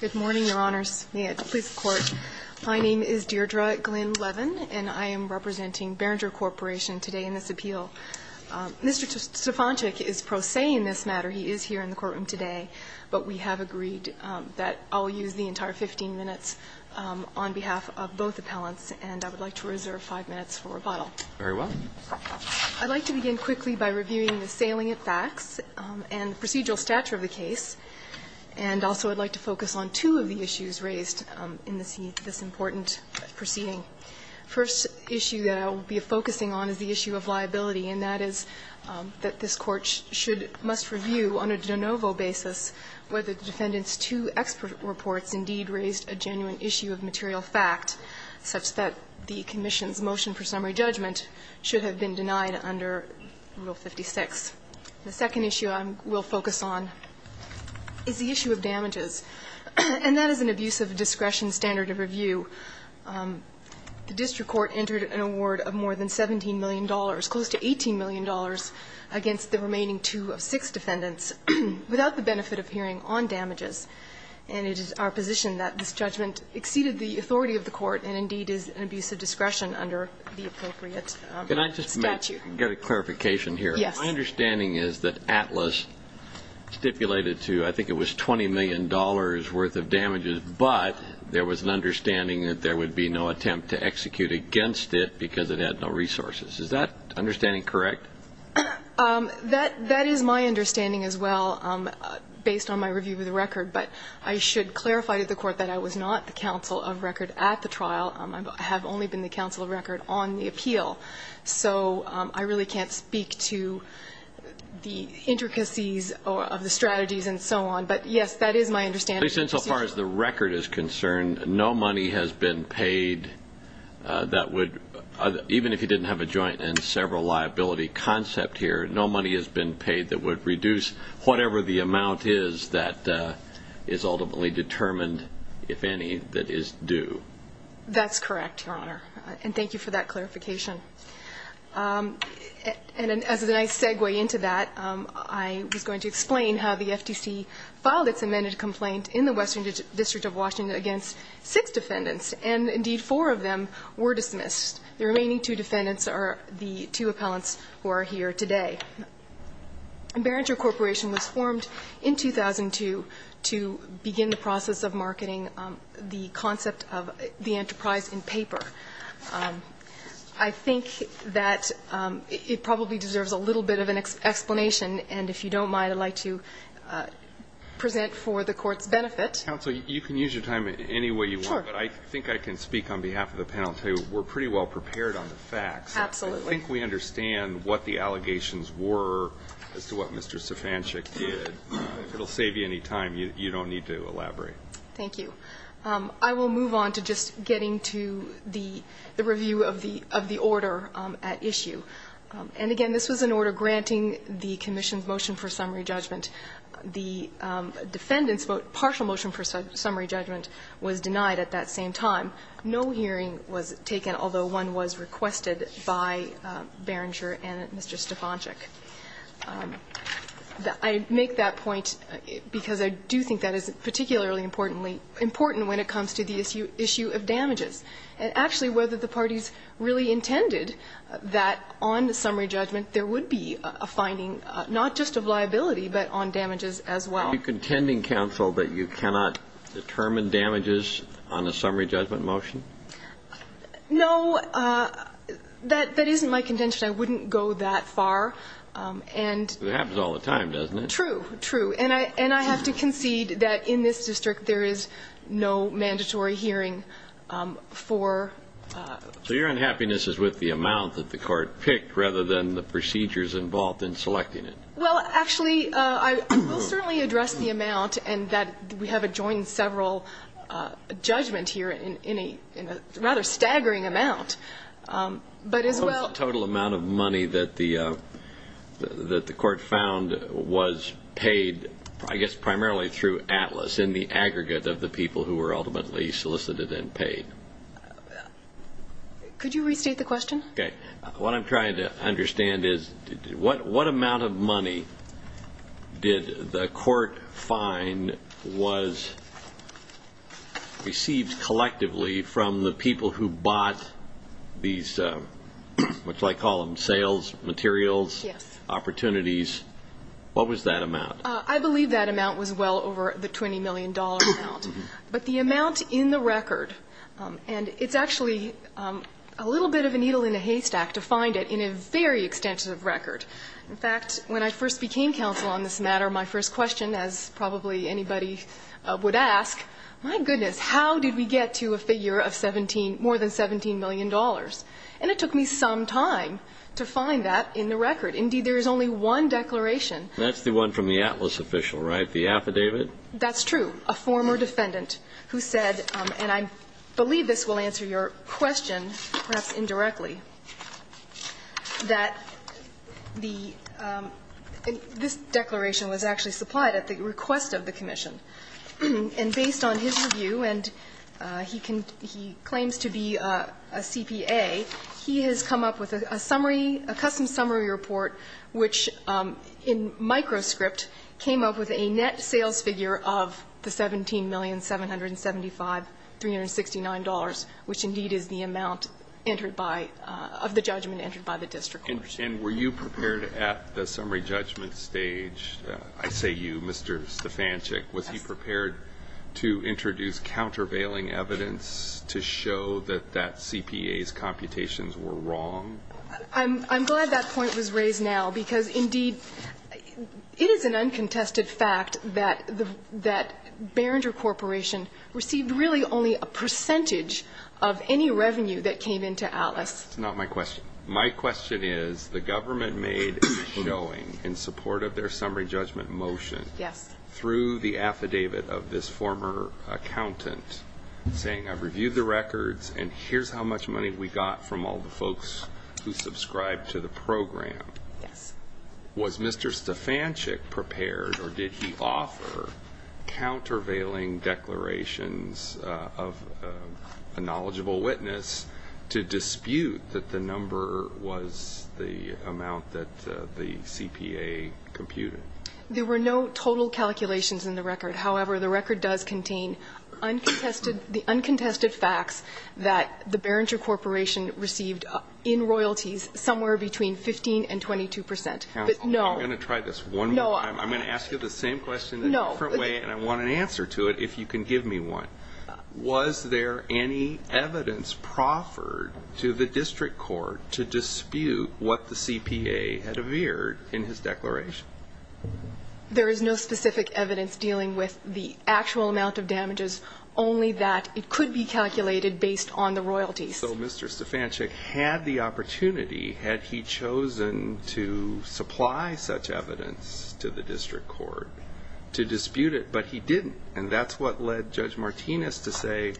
Good morning, Your Honors. May it please the Court, my name is Deirdre Glynn Levin, and I am representing Berenger Corporation today in this appeal. Mr. Stefanchik is pro se in this matter. He is here in the courtroom today, but we have agreed that I'll use the entire 15 minutes on behalf of both appellants, and I would like to reserve five minutes for rebuttal. Very well. I'd like to begin quickly by reviewing the salient facts and the procedural stature of the case, and also I'd like to focus on two of the issues raised in this important proceeding. The first issue that I will be focusing on is the issue of liability, and that is that this Court should or must review on a de novo basis whether the defendant's two expert reports indeed raised a genuine issue of material fact, such that the commission's motion for summary judgment should have been denied under Rule 56. The second issue I will focus on is the issue of damages, and that is an abuse of discretion standard of review. The district court entered an award of more than $17 million, close to $18 million, against the remaining two of six defendants, without the benefit of hearing on damages. And it is our position that this judgment exceeded the authority of the court and indeed is an abuse of discretion under the appropriate statute. Can I just make and get a clarification here? Yes. My understanding is that ATLAS stipulated to, I think it was $20 million worth of damages, but there was an understanding that there would be no attempt to execute against it because it had no resources. Is that understanding correct? That is my understanding as well, based on my review of the record. But I should clarify to the Court that I was not the counsel of record at the trial. I have only been the counsel of record on the appeal. So I really can't speak to the intricacies of the strategies and so on. But yes, that is my understanding. But as far as the record is concerned, no money has been paid that would, even if you didn't have a joint and several liability concept here, no money has been paid that would reduce whatever the amount is that is ultimately determined, if any, that is due. That's correct, Your Honor. And thank you for that clarification. And as a nice segue into that, I was going to explain how the FTC filed its amended complaint in the Western District of Washington against six defendants. And indeed, four of them were dismissed. The remaining two defendants are the two appellants who are here today. Barringer Corporation was formed in 2002 to begin the process of marketing the concept of the enterprise in paper. I think that it probably deserves a little bit of an explanation. And if you don't mind, I'd like to present for the court's benefit. Counsel, you can use your time any way you want. Sure. But I think I can speak on behalf of the panel. I'll tell you, we're pretty well prepared on the facts. Absolutely. I think we understand what the allegations were as to what Mr. Sifancic did. If it'll save you any time, you don't need to elaborate. Thank you. I will move on to just getting to the review of the order at issue. And again, this was an order granting the commission's motion for summary judgment. The defendant's vote, partial motion for summary judgment, was denied at that same time. No hearing was taken, although one was requested by Barringer and Mr. Sifancic. I make that point because I do think that is particularly importantly important when it comes to the issue of damages. And actually, whether the parties really intended that on the summary judgment, there would be a finding, not just of liability, but on damages as well. Are you contending, counsel, that you cannot determine damages on a summary judgment motion? No, that isn't my contention. I wouldn't go that far. It happens all the time, doesn't it? True, true. And I have to concede that in this district, there is no mandatory hearing for- So your unhappiness is with the amount that the court picked, rather than the procedures involved in selecting it? Well, actually, I will certainly address the amount, and that we have adjoined several judgments here in a rather staggering amount. But as well- The total amount of money that the court found was paid, I guess, primarily through Atlas, in the aggregate of the people who were ultimately solicited and paid. Could you restate the question? Okay. What I'm trying to understand is, what amount of money did the court find was received collectively from the people who bought these, what do I call them, sales materials, opportunities? What was that amount? I believe that amount was well over the $20 million amount. But the amount in the record, and it's actually a little bit of a needle in a haystack to find it in a very extensive record. In fact, when I first became counsel on this matter, my first question, as to how did we get to a figure of 17, more than $17 million, and it took me some time to find that in the record. Indeed, there is only one declaration. That's the one from the Atlas official, right, the affidavit? That's true. A former defendant who said, and I believe this will answer your question, perhaps indirectly, that the this declaration was actually supplied at the request of the He claims to be a CPA. He has come up with a summary, a custom summary report, which, in microscript, came up with a net sales figure of the $17,775,369, which indeed is the amount entered by, of the judgment entered by the district courts. And were you prepared at the summary judgment stage, I say you, Mr. Stefanchik, was he prepared to introduce countervailing evidence to show that that CPA's computations were wrong? I'm glad that point was raised now, because indeed, it is an uncontested fact that Barringer Corporation received really only a percentage of any revenue that came into Atlas. That's not my question. My question is, the government made a showing in support of their summary judgment motion through the affidavit of this former accountant saying, I've reviewed the records, and here's how much money we got from all the folks who subscribed to the program. Was Mr. Stefanchik prepared, or did he offer, countervailing declarations of a knowledgeable witness to dispute that the number was the amount that the CPA computed? There were no total calculations in the record. However, the record does contain uncontested, the uncontested facts that the Barringer Corporation received in royalties somewhere between 15 and 22 percent. But no. I'm going to try this one more time. I'm going to ask you the same question in a different way, and I want an answer to it if you can give me one. Was there any evidence proffered to the district court to dispute what the CPA had declared? There is no specific evidence dealing with the actual amount of damages, only that it could be calculated based on the royalties. So Mr. Stefanchik had the opportunity, had he chosen to supply such evidence to the district court to dispute it, but he didn't. And that's what led Judge Martinez to say,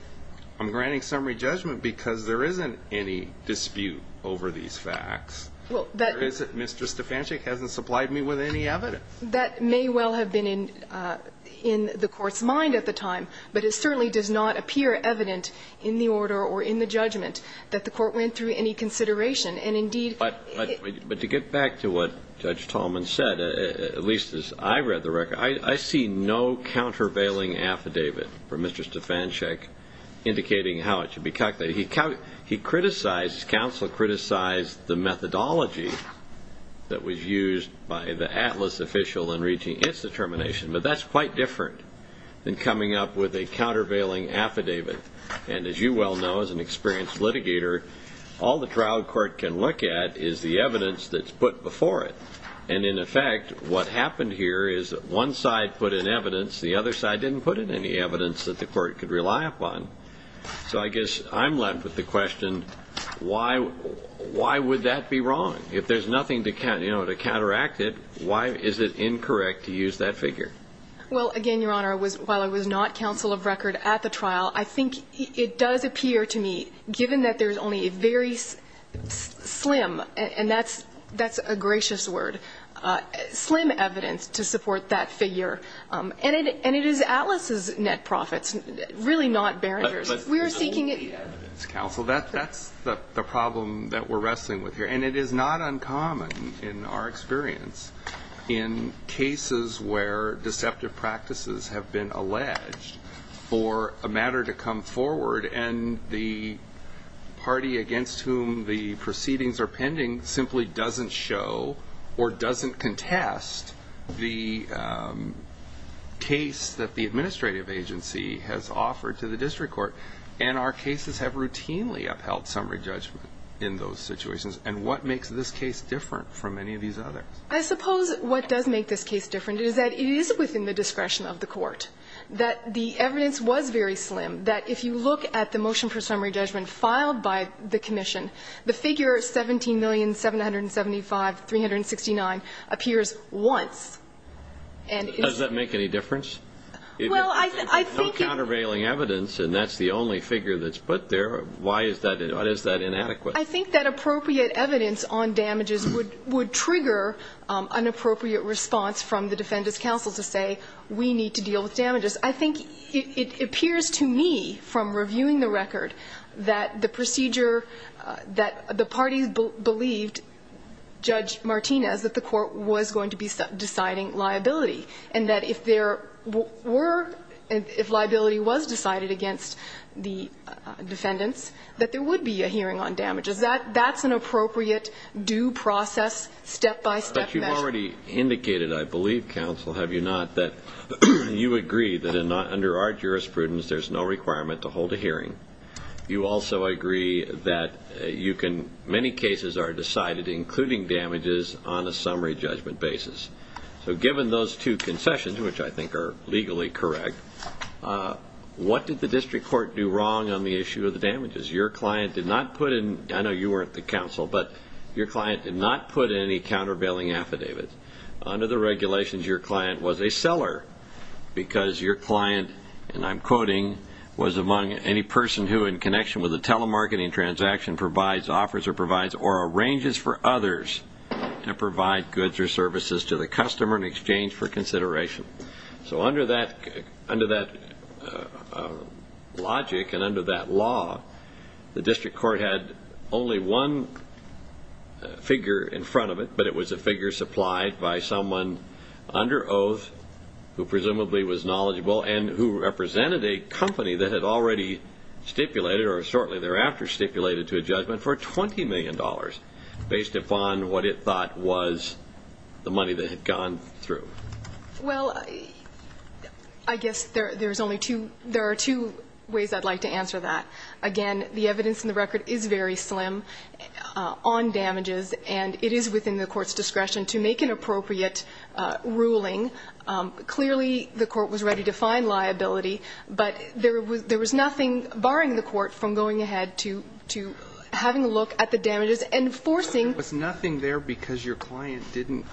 I'm granting summary judgment because there isn't any dispute over these facts. Mr. Stefanchik hasn't supplied me with any evidence. That may well have been in the court's mind at the time, but it certainly does not appear evident in the order or in the judgment that the court went through any consideration. But to get back to what Judge Tallman said, at least as I read the record, I see no countervailing affidavit from Mr. Stefanchik indicating how it should be calculated. He criticized, his counsel criticized the methodology that was used by the Atlas official in reaching its determination, but that's quite different than coming up with a countervailing affidavit. And as you well know, as an experienced litigator, all the trial court can look at is the evidence that's put before it. And in effect, what happened here is that one side put in evidence, the other side didn't put in any evidence that the court could rely upon. So I guess I'm left with the question, why would that be wrong? If there's nothing to counteract it, why is it incorrect to use that figure? Well, again, Your Honor, while I was not counsel of record at the trial, I think it does appear to me, given that there's only a very slim, and that's a gracious word, slim evidence to support that figure. And it is Atlas's net profits, really not Beringer's. We are seeking it. Counsel, that's the problem that we're wrestling with here. And it is not uncommon in our experience in cases where deceptive practices have been alleged for a matter to come forward, and the party against whom the proceedings are pending simply doesn't show or doesn't contest the case that the administrative agency has offered to the district court. And our cases have routinely upheld summary judgment in those situations. And what makes this case different from any of these others? I suppose what does make this case different is that it is within the discretion of the court, that the evidence was very slim, that if you look at the figure 17,775,369 appears once. And it's... Does that make any difference? Well, I think it... There's no countervailing evidence, and that's the only figure that's put there. Why is that? Why is that inadequate? I think that appropriate evidence on damages would trigger an appropriate response from the defendant's counsel to say, we need to deal with damages. I think it appears to me, from reviewing the record, that the procedure... That the parties believed, Judge Martinez, that the court was going to be deciding liability, and that if there were... If liability was decided against the defendants, that there would be a hearing on damages. That's an appropriate due process, step-by-step measure. But you've already indicated, I believe, counsel, have you not, that you agree that under our jurisprudence, there's no requirement to hold a hearing. You also agree that you can... Many cases are decided, including damages, on a summary judgment basis. So given those two concessions, which I think are legally correct, what did the district court do wrong on the issue of the damages? Your client did not put in... I know you weren't the counsel, but your client did not put in any countervailing affidavits. Under the regulations, your client was a seller, because your client, and I'm quoting, was among any person who, in connection with a telemarketing transaction, provides offers or arranges for others to provide goods or services to the customer in exchange for consideration. So under that logic, and under that law, the district court had only one figure in front of it, but it was a figure supplied by someone under oath who presumably was knowledgeable and who represented a company that had already stipulated, or shortly thereafter stipulated to a judgment, for $20 million based upon what it thought was the money that had gone through. Well, I guess there are two ways I'd like to answer that. Again, the evidence in the record is very slim on damages, and it is within the court's discretion to make an appropriate ruling. Clearly, the court was ready to find liability, but there was nothing barring the court from going ahead to having a look at the damages and forcing... But there was nothing there because your client didn't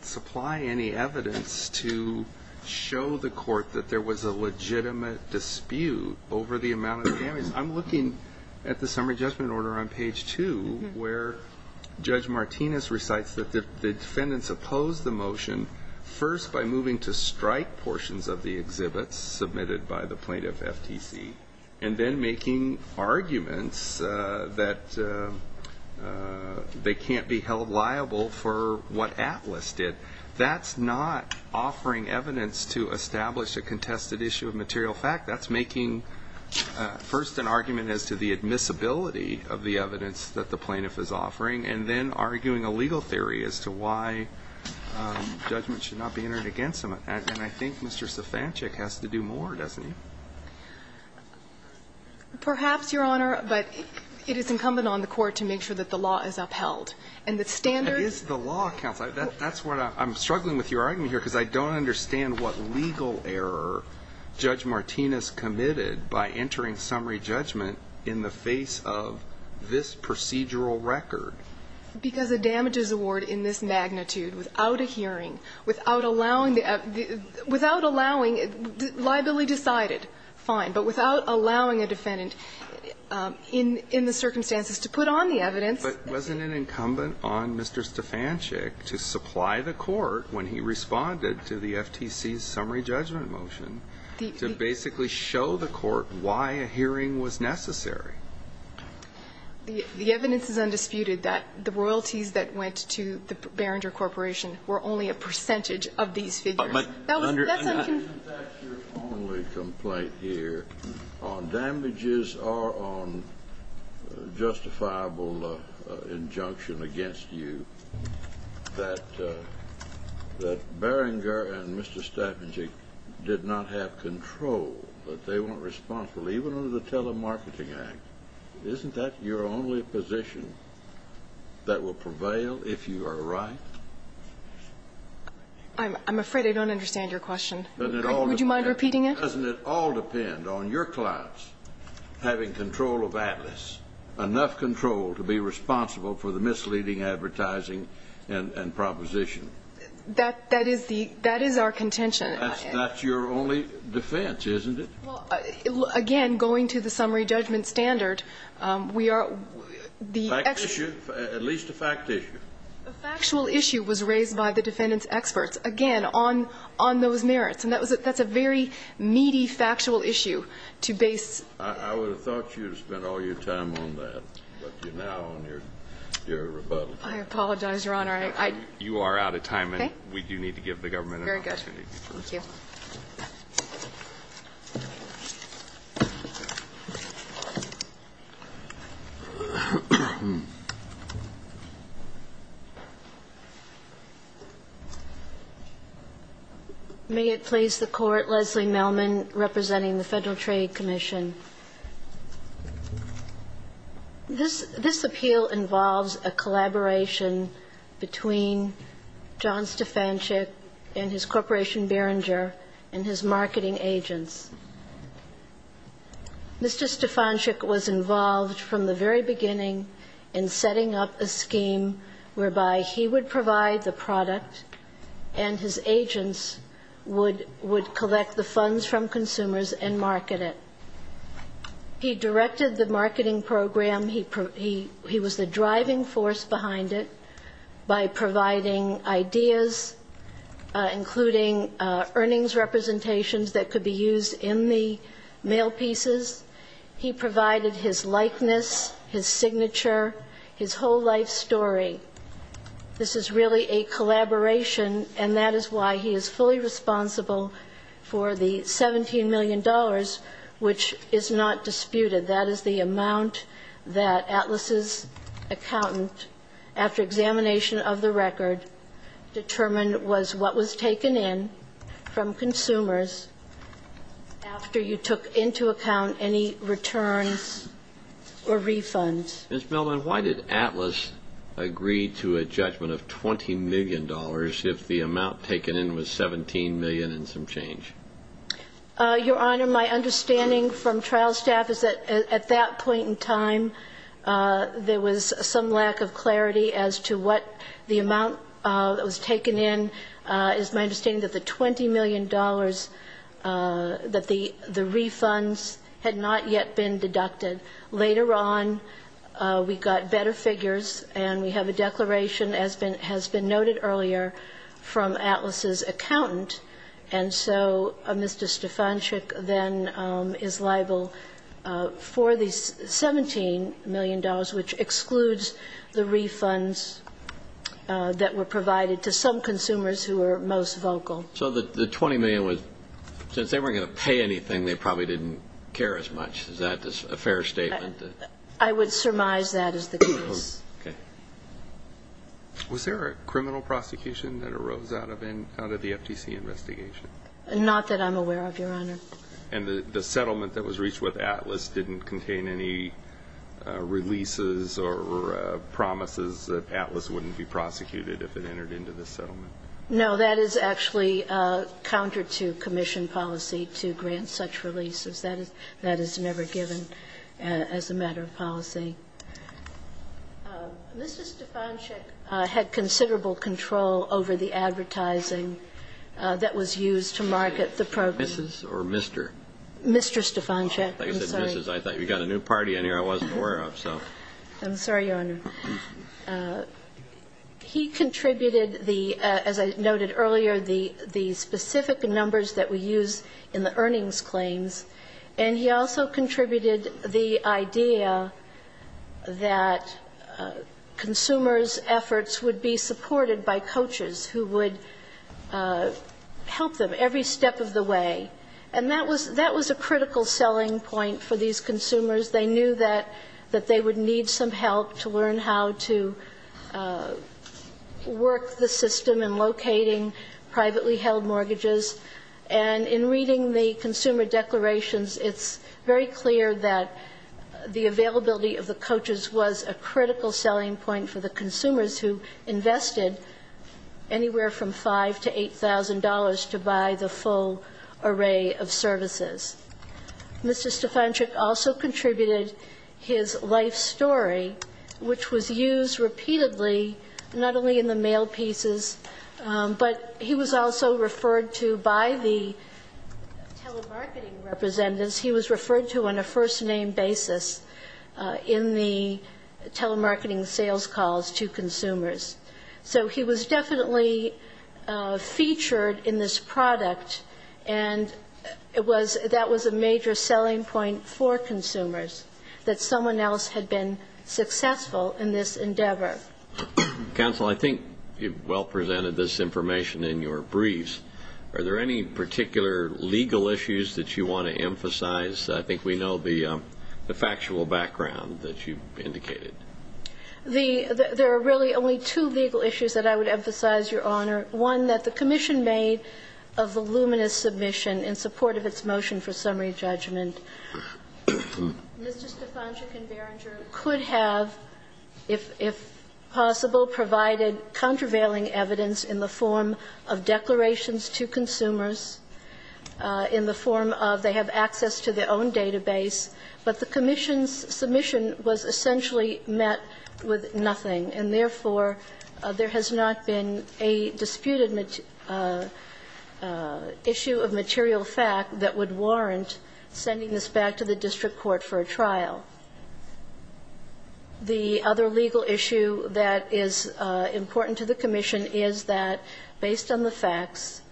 supply any evidence to show the court that there was a legitimate dispute over the amount of damage. I'm looking at the summary judgment order on page two, where Judge Martinez recites that the defendants opposed the motion first by moving to strike portions of the exhibits submitted by the plaintiff, FTC, and then making arguments that they can't be held liable for what Atlas did. That's not offering evidence to establish a contested issue of material fact. That's making, first, an argument as to the admissibility of the evidence that the plaintiff is offering, and then arguing a legal theory as to why judgment should not be entered against them. And I think Mr. Sofancic has to do more, doesn't he? Perhaps, Your Honor, but it is incumbent on the court to make sure that the law is upheld. And the standards... But it is the law, counsel. That's what I'm struggling with your argument here, because I don't understand what legal error Judge Martinez committed by entering summary judgment in the face of this procedural record. Because a damages award in this magnitude, without a hearing, without allowing the... Without allowing it, liability decided, fine, but without allowing a defendant in the circumstances to put on the evidence... But wasn't it incumbent on Mr. Sofancic to supply the court, when he responded to the FTC's summary judgment motion, to basically show the court why a hearing was necessary? The evidence is undisputed that the royalties that went to the Beringer Corporation were only a percentage of these figures. That's what I'm concerned about. Isn't that your only complaint here on damages or on justifiable injunction against you, that Beringer and Mr. Sofancic did not have control, that they weren't responsible, even under the Telemarketing Act? Isn't that your only position that will prevail if you are right? I'm afraid I don't understand your question. Would you mind repeating it? Doesn't it all depend on your clients having control of Atlas, enough control to be responsible for the misleading advertising and proposition? That is our contention. That's your only defense, isn't it? Well, again, going to the summary judgment standard, we are... Fact issue, at least a fact issue. A factual issue was raised by the defendant's experts, again, on those merits. And that's a very meaty factual issue to base... I would have thought you had spent all your time on that, but you're now on your rebuttal. I apologize, Your Honor. You are out of time, and we do need to give the government an opportunity to proceed. Thank you. May it please the Court, Leslie Mellman, representing the Federal Trade Commission. This appeal involves a collaboration between John Stefanczyk and his corporation Behringer and his marketing agents. Mr. Stefanczyk was involved from the very beginning in setting up a scheme whereby he would provide the product and his agents would collect the funds from consumers and market it. He directed the marketing program. He was the driving force behind it by providing ideas, including earnings representations that could be used in the mail pieces. He provided his likeness, his signature, his whole life story. This is really a collaboration, and that is why he is fully responsible for the $17 million, which is not disputed. That is the amount that Atlas's accountant, after examination of the record, determined was what was taken in from consumers after you took into account any returns or refunds. Ms. Mellman, why did Atlas agree to a judgment of $20 million if the amount taken in was $17 million and some change? Your Honor, my understanding from trial staff is that at that point in time, there was some lack of clarity as to what the amount that was taken in. It is my understanding that the $20 million, that the refunds had not yet been deducted. Later on, we got better figures, and we have a declaration as has been noted earlier from Atlas's accountant. And so Mr. Stefanczyk then is liable for the $17 million, which excludes the refunds that were provided to some consumers who were most vocal. So the $20 million was, since they weren't going to pay anything, they probably didn't care as much. Is that a fair statement? I would surmise that is the case. Okay. Was there a criminal prosecution that arose out of the FTC investigation? Not that I'm aware of, Your Honor. And the settlement that was reached with Atlas didn't contain any releases or promises that Atlas wouldn't be prosecuted if it entered into the settlement? No. That is actually counter to commission policy to grant such releases. That is never given as a matter of policy. Mr. Stefanczyk had considerable control over the advertising that was used to market the program. Mrs. or Mr.? Mr. Stefanczyk. I'm sorry. I thought you got a new party in here I wasn't aware of, so. I'm sorry, Your Honor. He contributed the, as I noted earlier, the specific numbers that we use in the earnings claims, and he also contributed the idea that consumers' efforts would be supported by coaches who would help them every step of the way. And that was a critical selling point for these consumers. They knew that they would need some help to learn how to work the system in locating privately held mortgages. And in reading the consumer declarations, it's very clear that the availability of the coaches was a critical selling point for the consumers who invested anywhere from $5,000 to $8,000 to buy the full array of services. Mr. Stefanczyk also contributed his life story, which was used repeatedly not only in the mail pieces, but he was also referred to by the telemarketing representatives, he was referred to on a first-name basis in the telemarketing sales calls to consumers. So he was definitely featured in this product, and it was that was a major selling point for consumers, that someone else had been successful in this endeavor. Counsel, I think you've well presented this information in your briefs. Are there any particular legal issues that you want to emphasize? I think we know the factual background that you've indicated. There are really only two legal issues that I would emphasize, Your Honor. One, that the commission made of the luminous submission in support of its motion for possible provided contravailing evidence in the form of declarations to consumers in the form of they have access to their own database, but the commission's submission was essentially met with nothing, and therefore, there has not been a disputed issue of material fact that would warrant sending this back to the district court for a trial. The other legal issue that is important to the commission is that, based on the facts,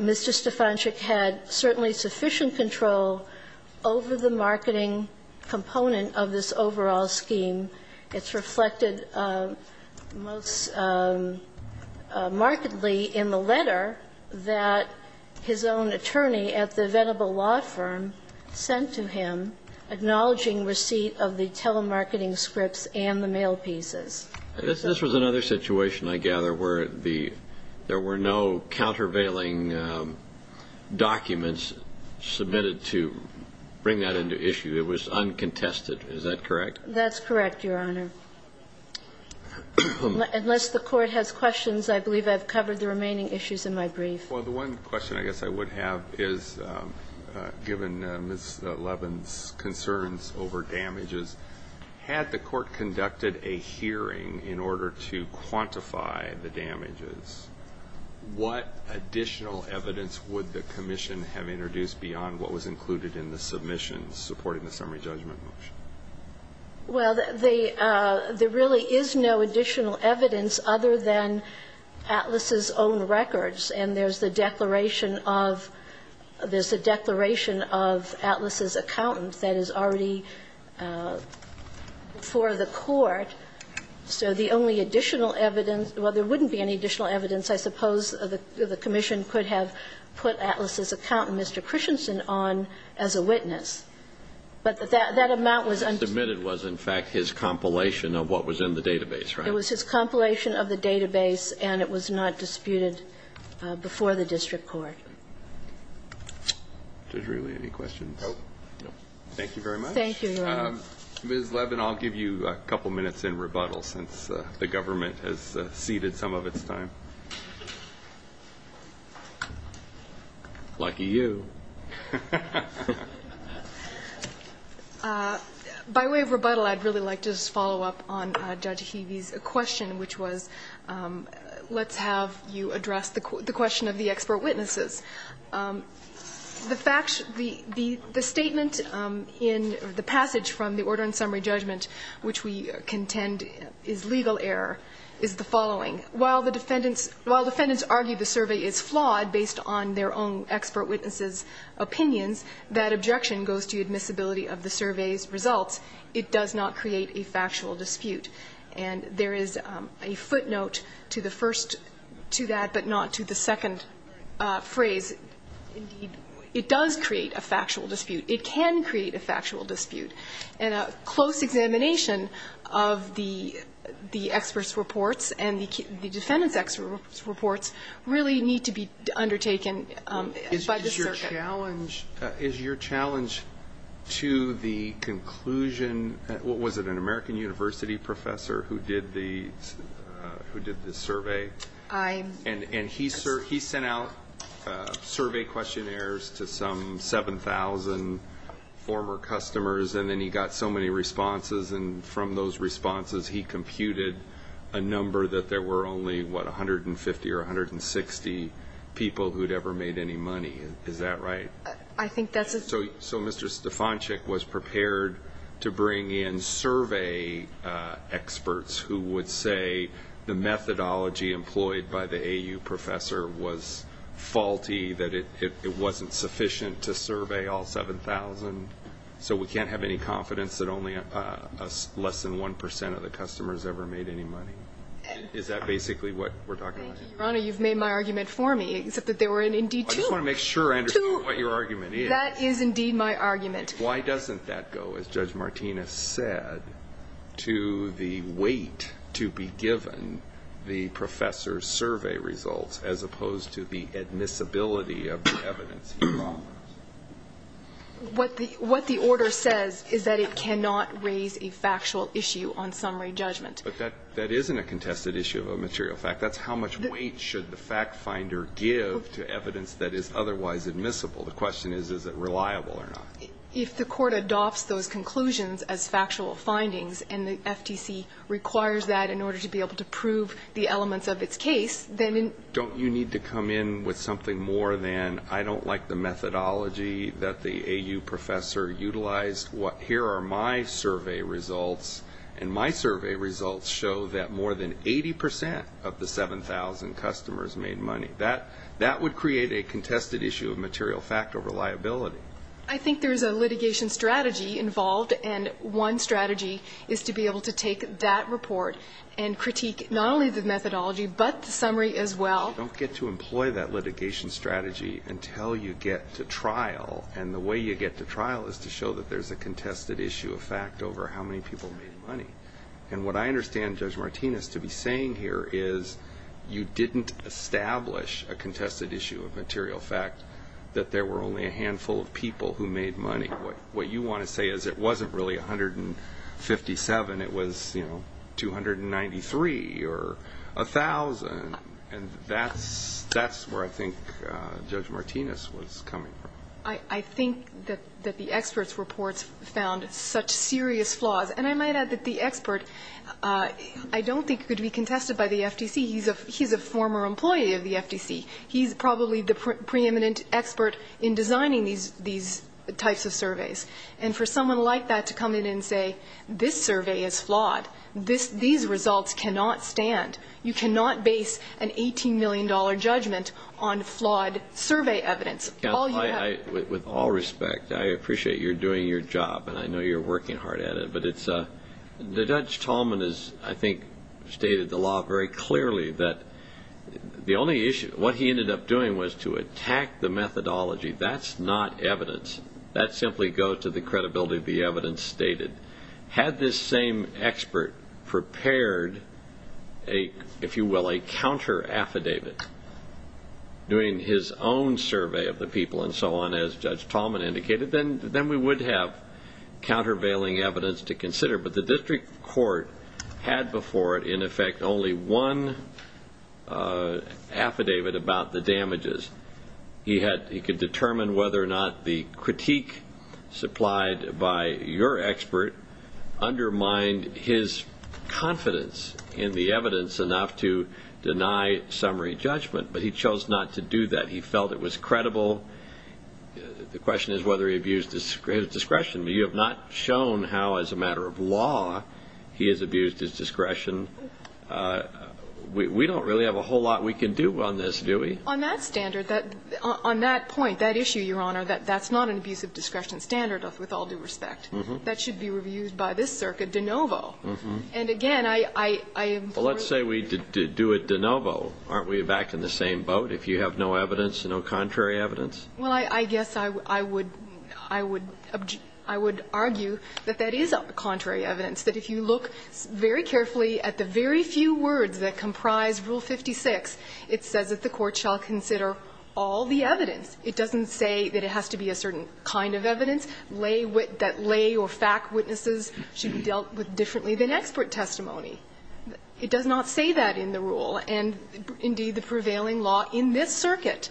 Mr. Stefanczyk had certainly sufficient control over the marketing component of this overall scheme. It's reflected most markedly in the letter that his own attorney at the Venable Law Firm sent to him acknowledging receipt of the telemarketing scripts and the mail pieces. This was another situation, I gather, where there were no countervailing documents submitted to bring that into issue. It was uncontested. Is that correct? That's correct, Your Honor. Unless the Court has questions, I believe I've covered the remaining issues in my brief. Well, the one question I guess I would have is, given Ms. Levin's concerns over damages, had the Court conducted a hearing in order to quantify the damages, what additional evidence would the commission have introduced beyond what was included in the submission supporting the summary judgment motion? Well, there really is no additional evidence other than Atlas's own records. And there's the declaration of Atlas's accountant that is already before the Court. So the only additional evidence – well, there wouldn't be any additional evidence, I suppose, the commission could have put Atlas's accountant, Mr. Christensen, on as a witness. But that amount was undisputed. What was submitted was, in fact, his compilation of what was in the database, right? It was his compilation of the database, and it was not disputed before the district court. Is there really any questions? No. Thank you very much. Thank you, Your Honor. Ms. Levin, I'll give you a couple minutes in rebuttal since the government has ceded some of its time. Lucky you. By way of rebuttal, I'd really like to just follow up on Judge Heavey's question, which was, let's have you address the question of the expert witnesses. The fact – the statement in the passage from the order in summary judgment, which we contend is legal error, is the following. While the defendants – while defendants argue the survey is flawed based on their own expert witnesses' opinions, that objection goes to admissibility of the survey's results. It does not create a factual dispute. And there is a footnote to the first – to that, but not to the second phrase. Indeed, it does create a factual dispute. It can create a factual dispute. And a close examination of the experts' reports and the defendants' experts' reports really need to be undertaken by the circuit. Is your challenge to the conclusion – was it an American University professor who did the survey? I'm – And he sent out survey questionnaires to some 7,000 former customers, and then he got so many responses. And from those responses, he computed a number that there were only, what, 150 or 160 people who'd ever made any money. Is that right? I think that's a – So Mr. Stefanczyk was prepared to bring in survey experts who would say the methodology employed by the AU professor was faulty, that it wasn't sufficient to survey all 7,000. So we can't have any confidence that only less than 1 percent of the customers ever made any money? Is that basically what we're talking about? Thank you, Your Honor. You've made my argument for me, except that there were indeed two. I just want to make sure I understand what your argument is. Two. That is indeed my argument. Why doesn't that go, as Judge Martinez said, to the weight to be given the professor's survey results as opposed to the admissibility of the evidence he brought? What the order says is that it cannot raise a factual issue on summary judgment. But that isn't a contested issue of a material fact. That's how much weight should the factfinder give to evidence that is otherwise admissible. The question is, is it reliable or not? If the Court adopts those conclusions as factual findings and the FTC requires that in order to be able to prove the elements of its case, then in – Don't you need to come in with something more than I don't like the methodology that the AU professor utilized? Here are my survey results, and my survey results show that more than 80 percent of the 7,000 customers made money. That would create a contested issue of material fact or reliability. I think there's a litigation strategy involved, and one strategy is to be able to Don't get to employ that litigation strategy until you get to trial. And the way you get to trial is to show that there's a contested issue of fact over how many people made money. And what I understand Judge Martinez to be saying here is you didn't establish a contested issue of material fact, that there were only a handful of people who made money. What you want to say is it wasn't really 157. It was 293 or 1,000. And that's where I think Judge Martinez was coming from. I think that the experts' reports found such serious flaws. And I might add that the expert I don't think could be contested by the FTC. He's a former employee of the FTC. He's probably the preeminent expert in designing these types of surveys. And for someone like that to come in and say this survey is flawed, these results cannot stand. You cannot base an $18 million judgment on flawed survey evidence. With all respect, I appreciate you're doing your job, and I know you're working hard at it. But Judge Tallman has, I think, stated the law very clearly that the only issue, what he ended up doing was to attack the methodology. That's not evidence. That simply goes to the credibility of the evidence stated. Had this same expert prepared, if you will, a counteraffidavit, doing his own survey of the people and so on, as Judge Tallman indicated, then we would have countervailing evidence to consider. But the district court had before it, in effect, only one affidavit about the damages. He could determine whether or not the critique supplied by your expert undermined his confidence in the evidence enough to deny summary judgment. But he chose not to do that. He felt it was credible. The question is whether he abused his discretion. But you have not shown how, as a matter of law, he has abused his discretion. We don't really have a whole lot we can do on this, do we? On that standard, on that point, that issue, Your Honor, that's not an abuse of discretion standard with all due respect. That should be reviewed by this circuit de novo. And again, I am for it. Well, let's say we do it de novo. Aren't we back in the same boat if you have no evidence, no contrary evidence? Well, I guess I would argue that that is contrary evidence, that if you look very few words that comprise Rule 56, it says that the court shall consider all the evidence. It doesn't say that it has to be a certain kind of evidence, that lay or fact witnesses should be dealt with differently than expert testimony. It does not say that in the rule. And, indeed, the prevailing law in this circuit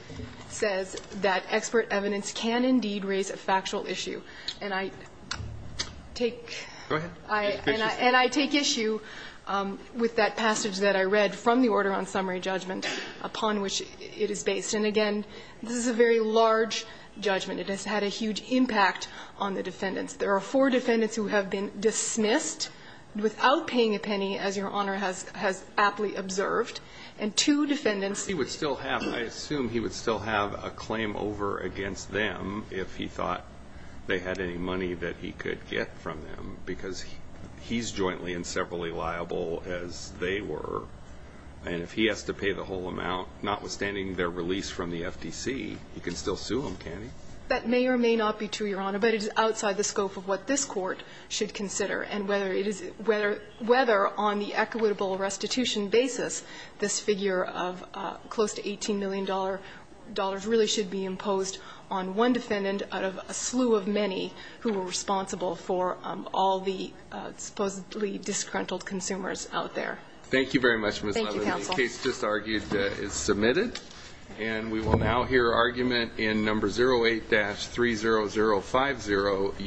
says that expert evidence can indeed raise a factual issue. And I take issue with that statement. I take issue with that passage that I read from the order on summary judgment upon which it is based. And, again, this is a very large judgment. It has had a huge impact on the defendants. There are four defendants who have been dismissed without paying a penny, as Your Honor has aptly observed, and two defendants. He would still have, I assume he would still have a claim over against them if he thought they had any money that he could get from them, because he's jointly and severally liable as they were. And if he has to pay the whole amount, notwithstanding their release from the FTC, he can still sue them, can't he? That may or may not be true, Your Honor, but it is outside the scope of what this Court should consider. And whether it is – whether on the equitable restitution basis this figure of close to $18 million really should be imposed on one defendant out of a slew of many who are responsible for all the supposedly disgruntled consumers out there. Thank you very much, Ms. Levin. Thank you, counsel. The case just argued is submitted. And we will now hear argument in No. 08-30050.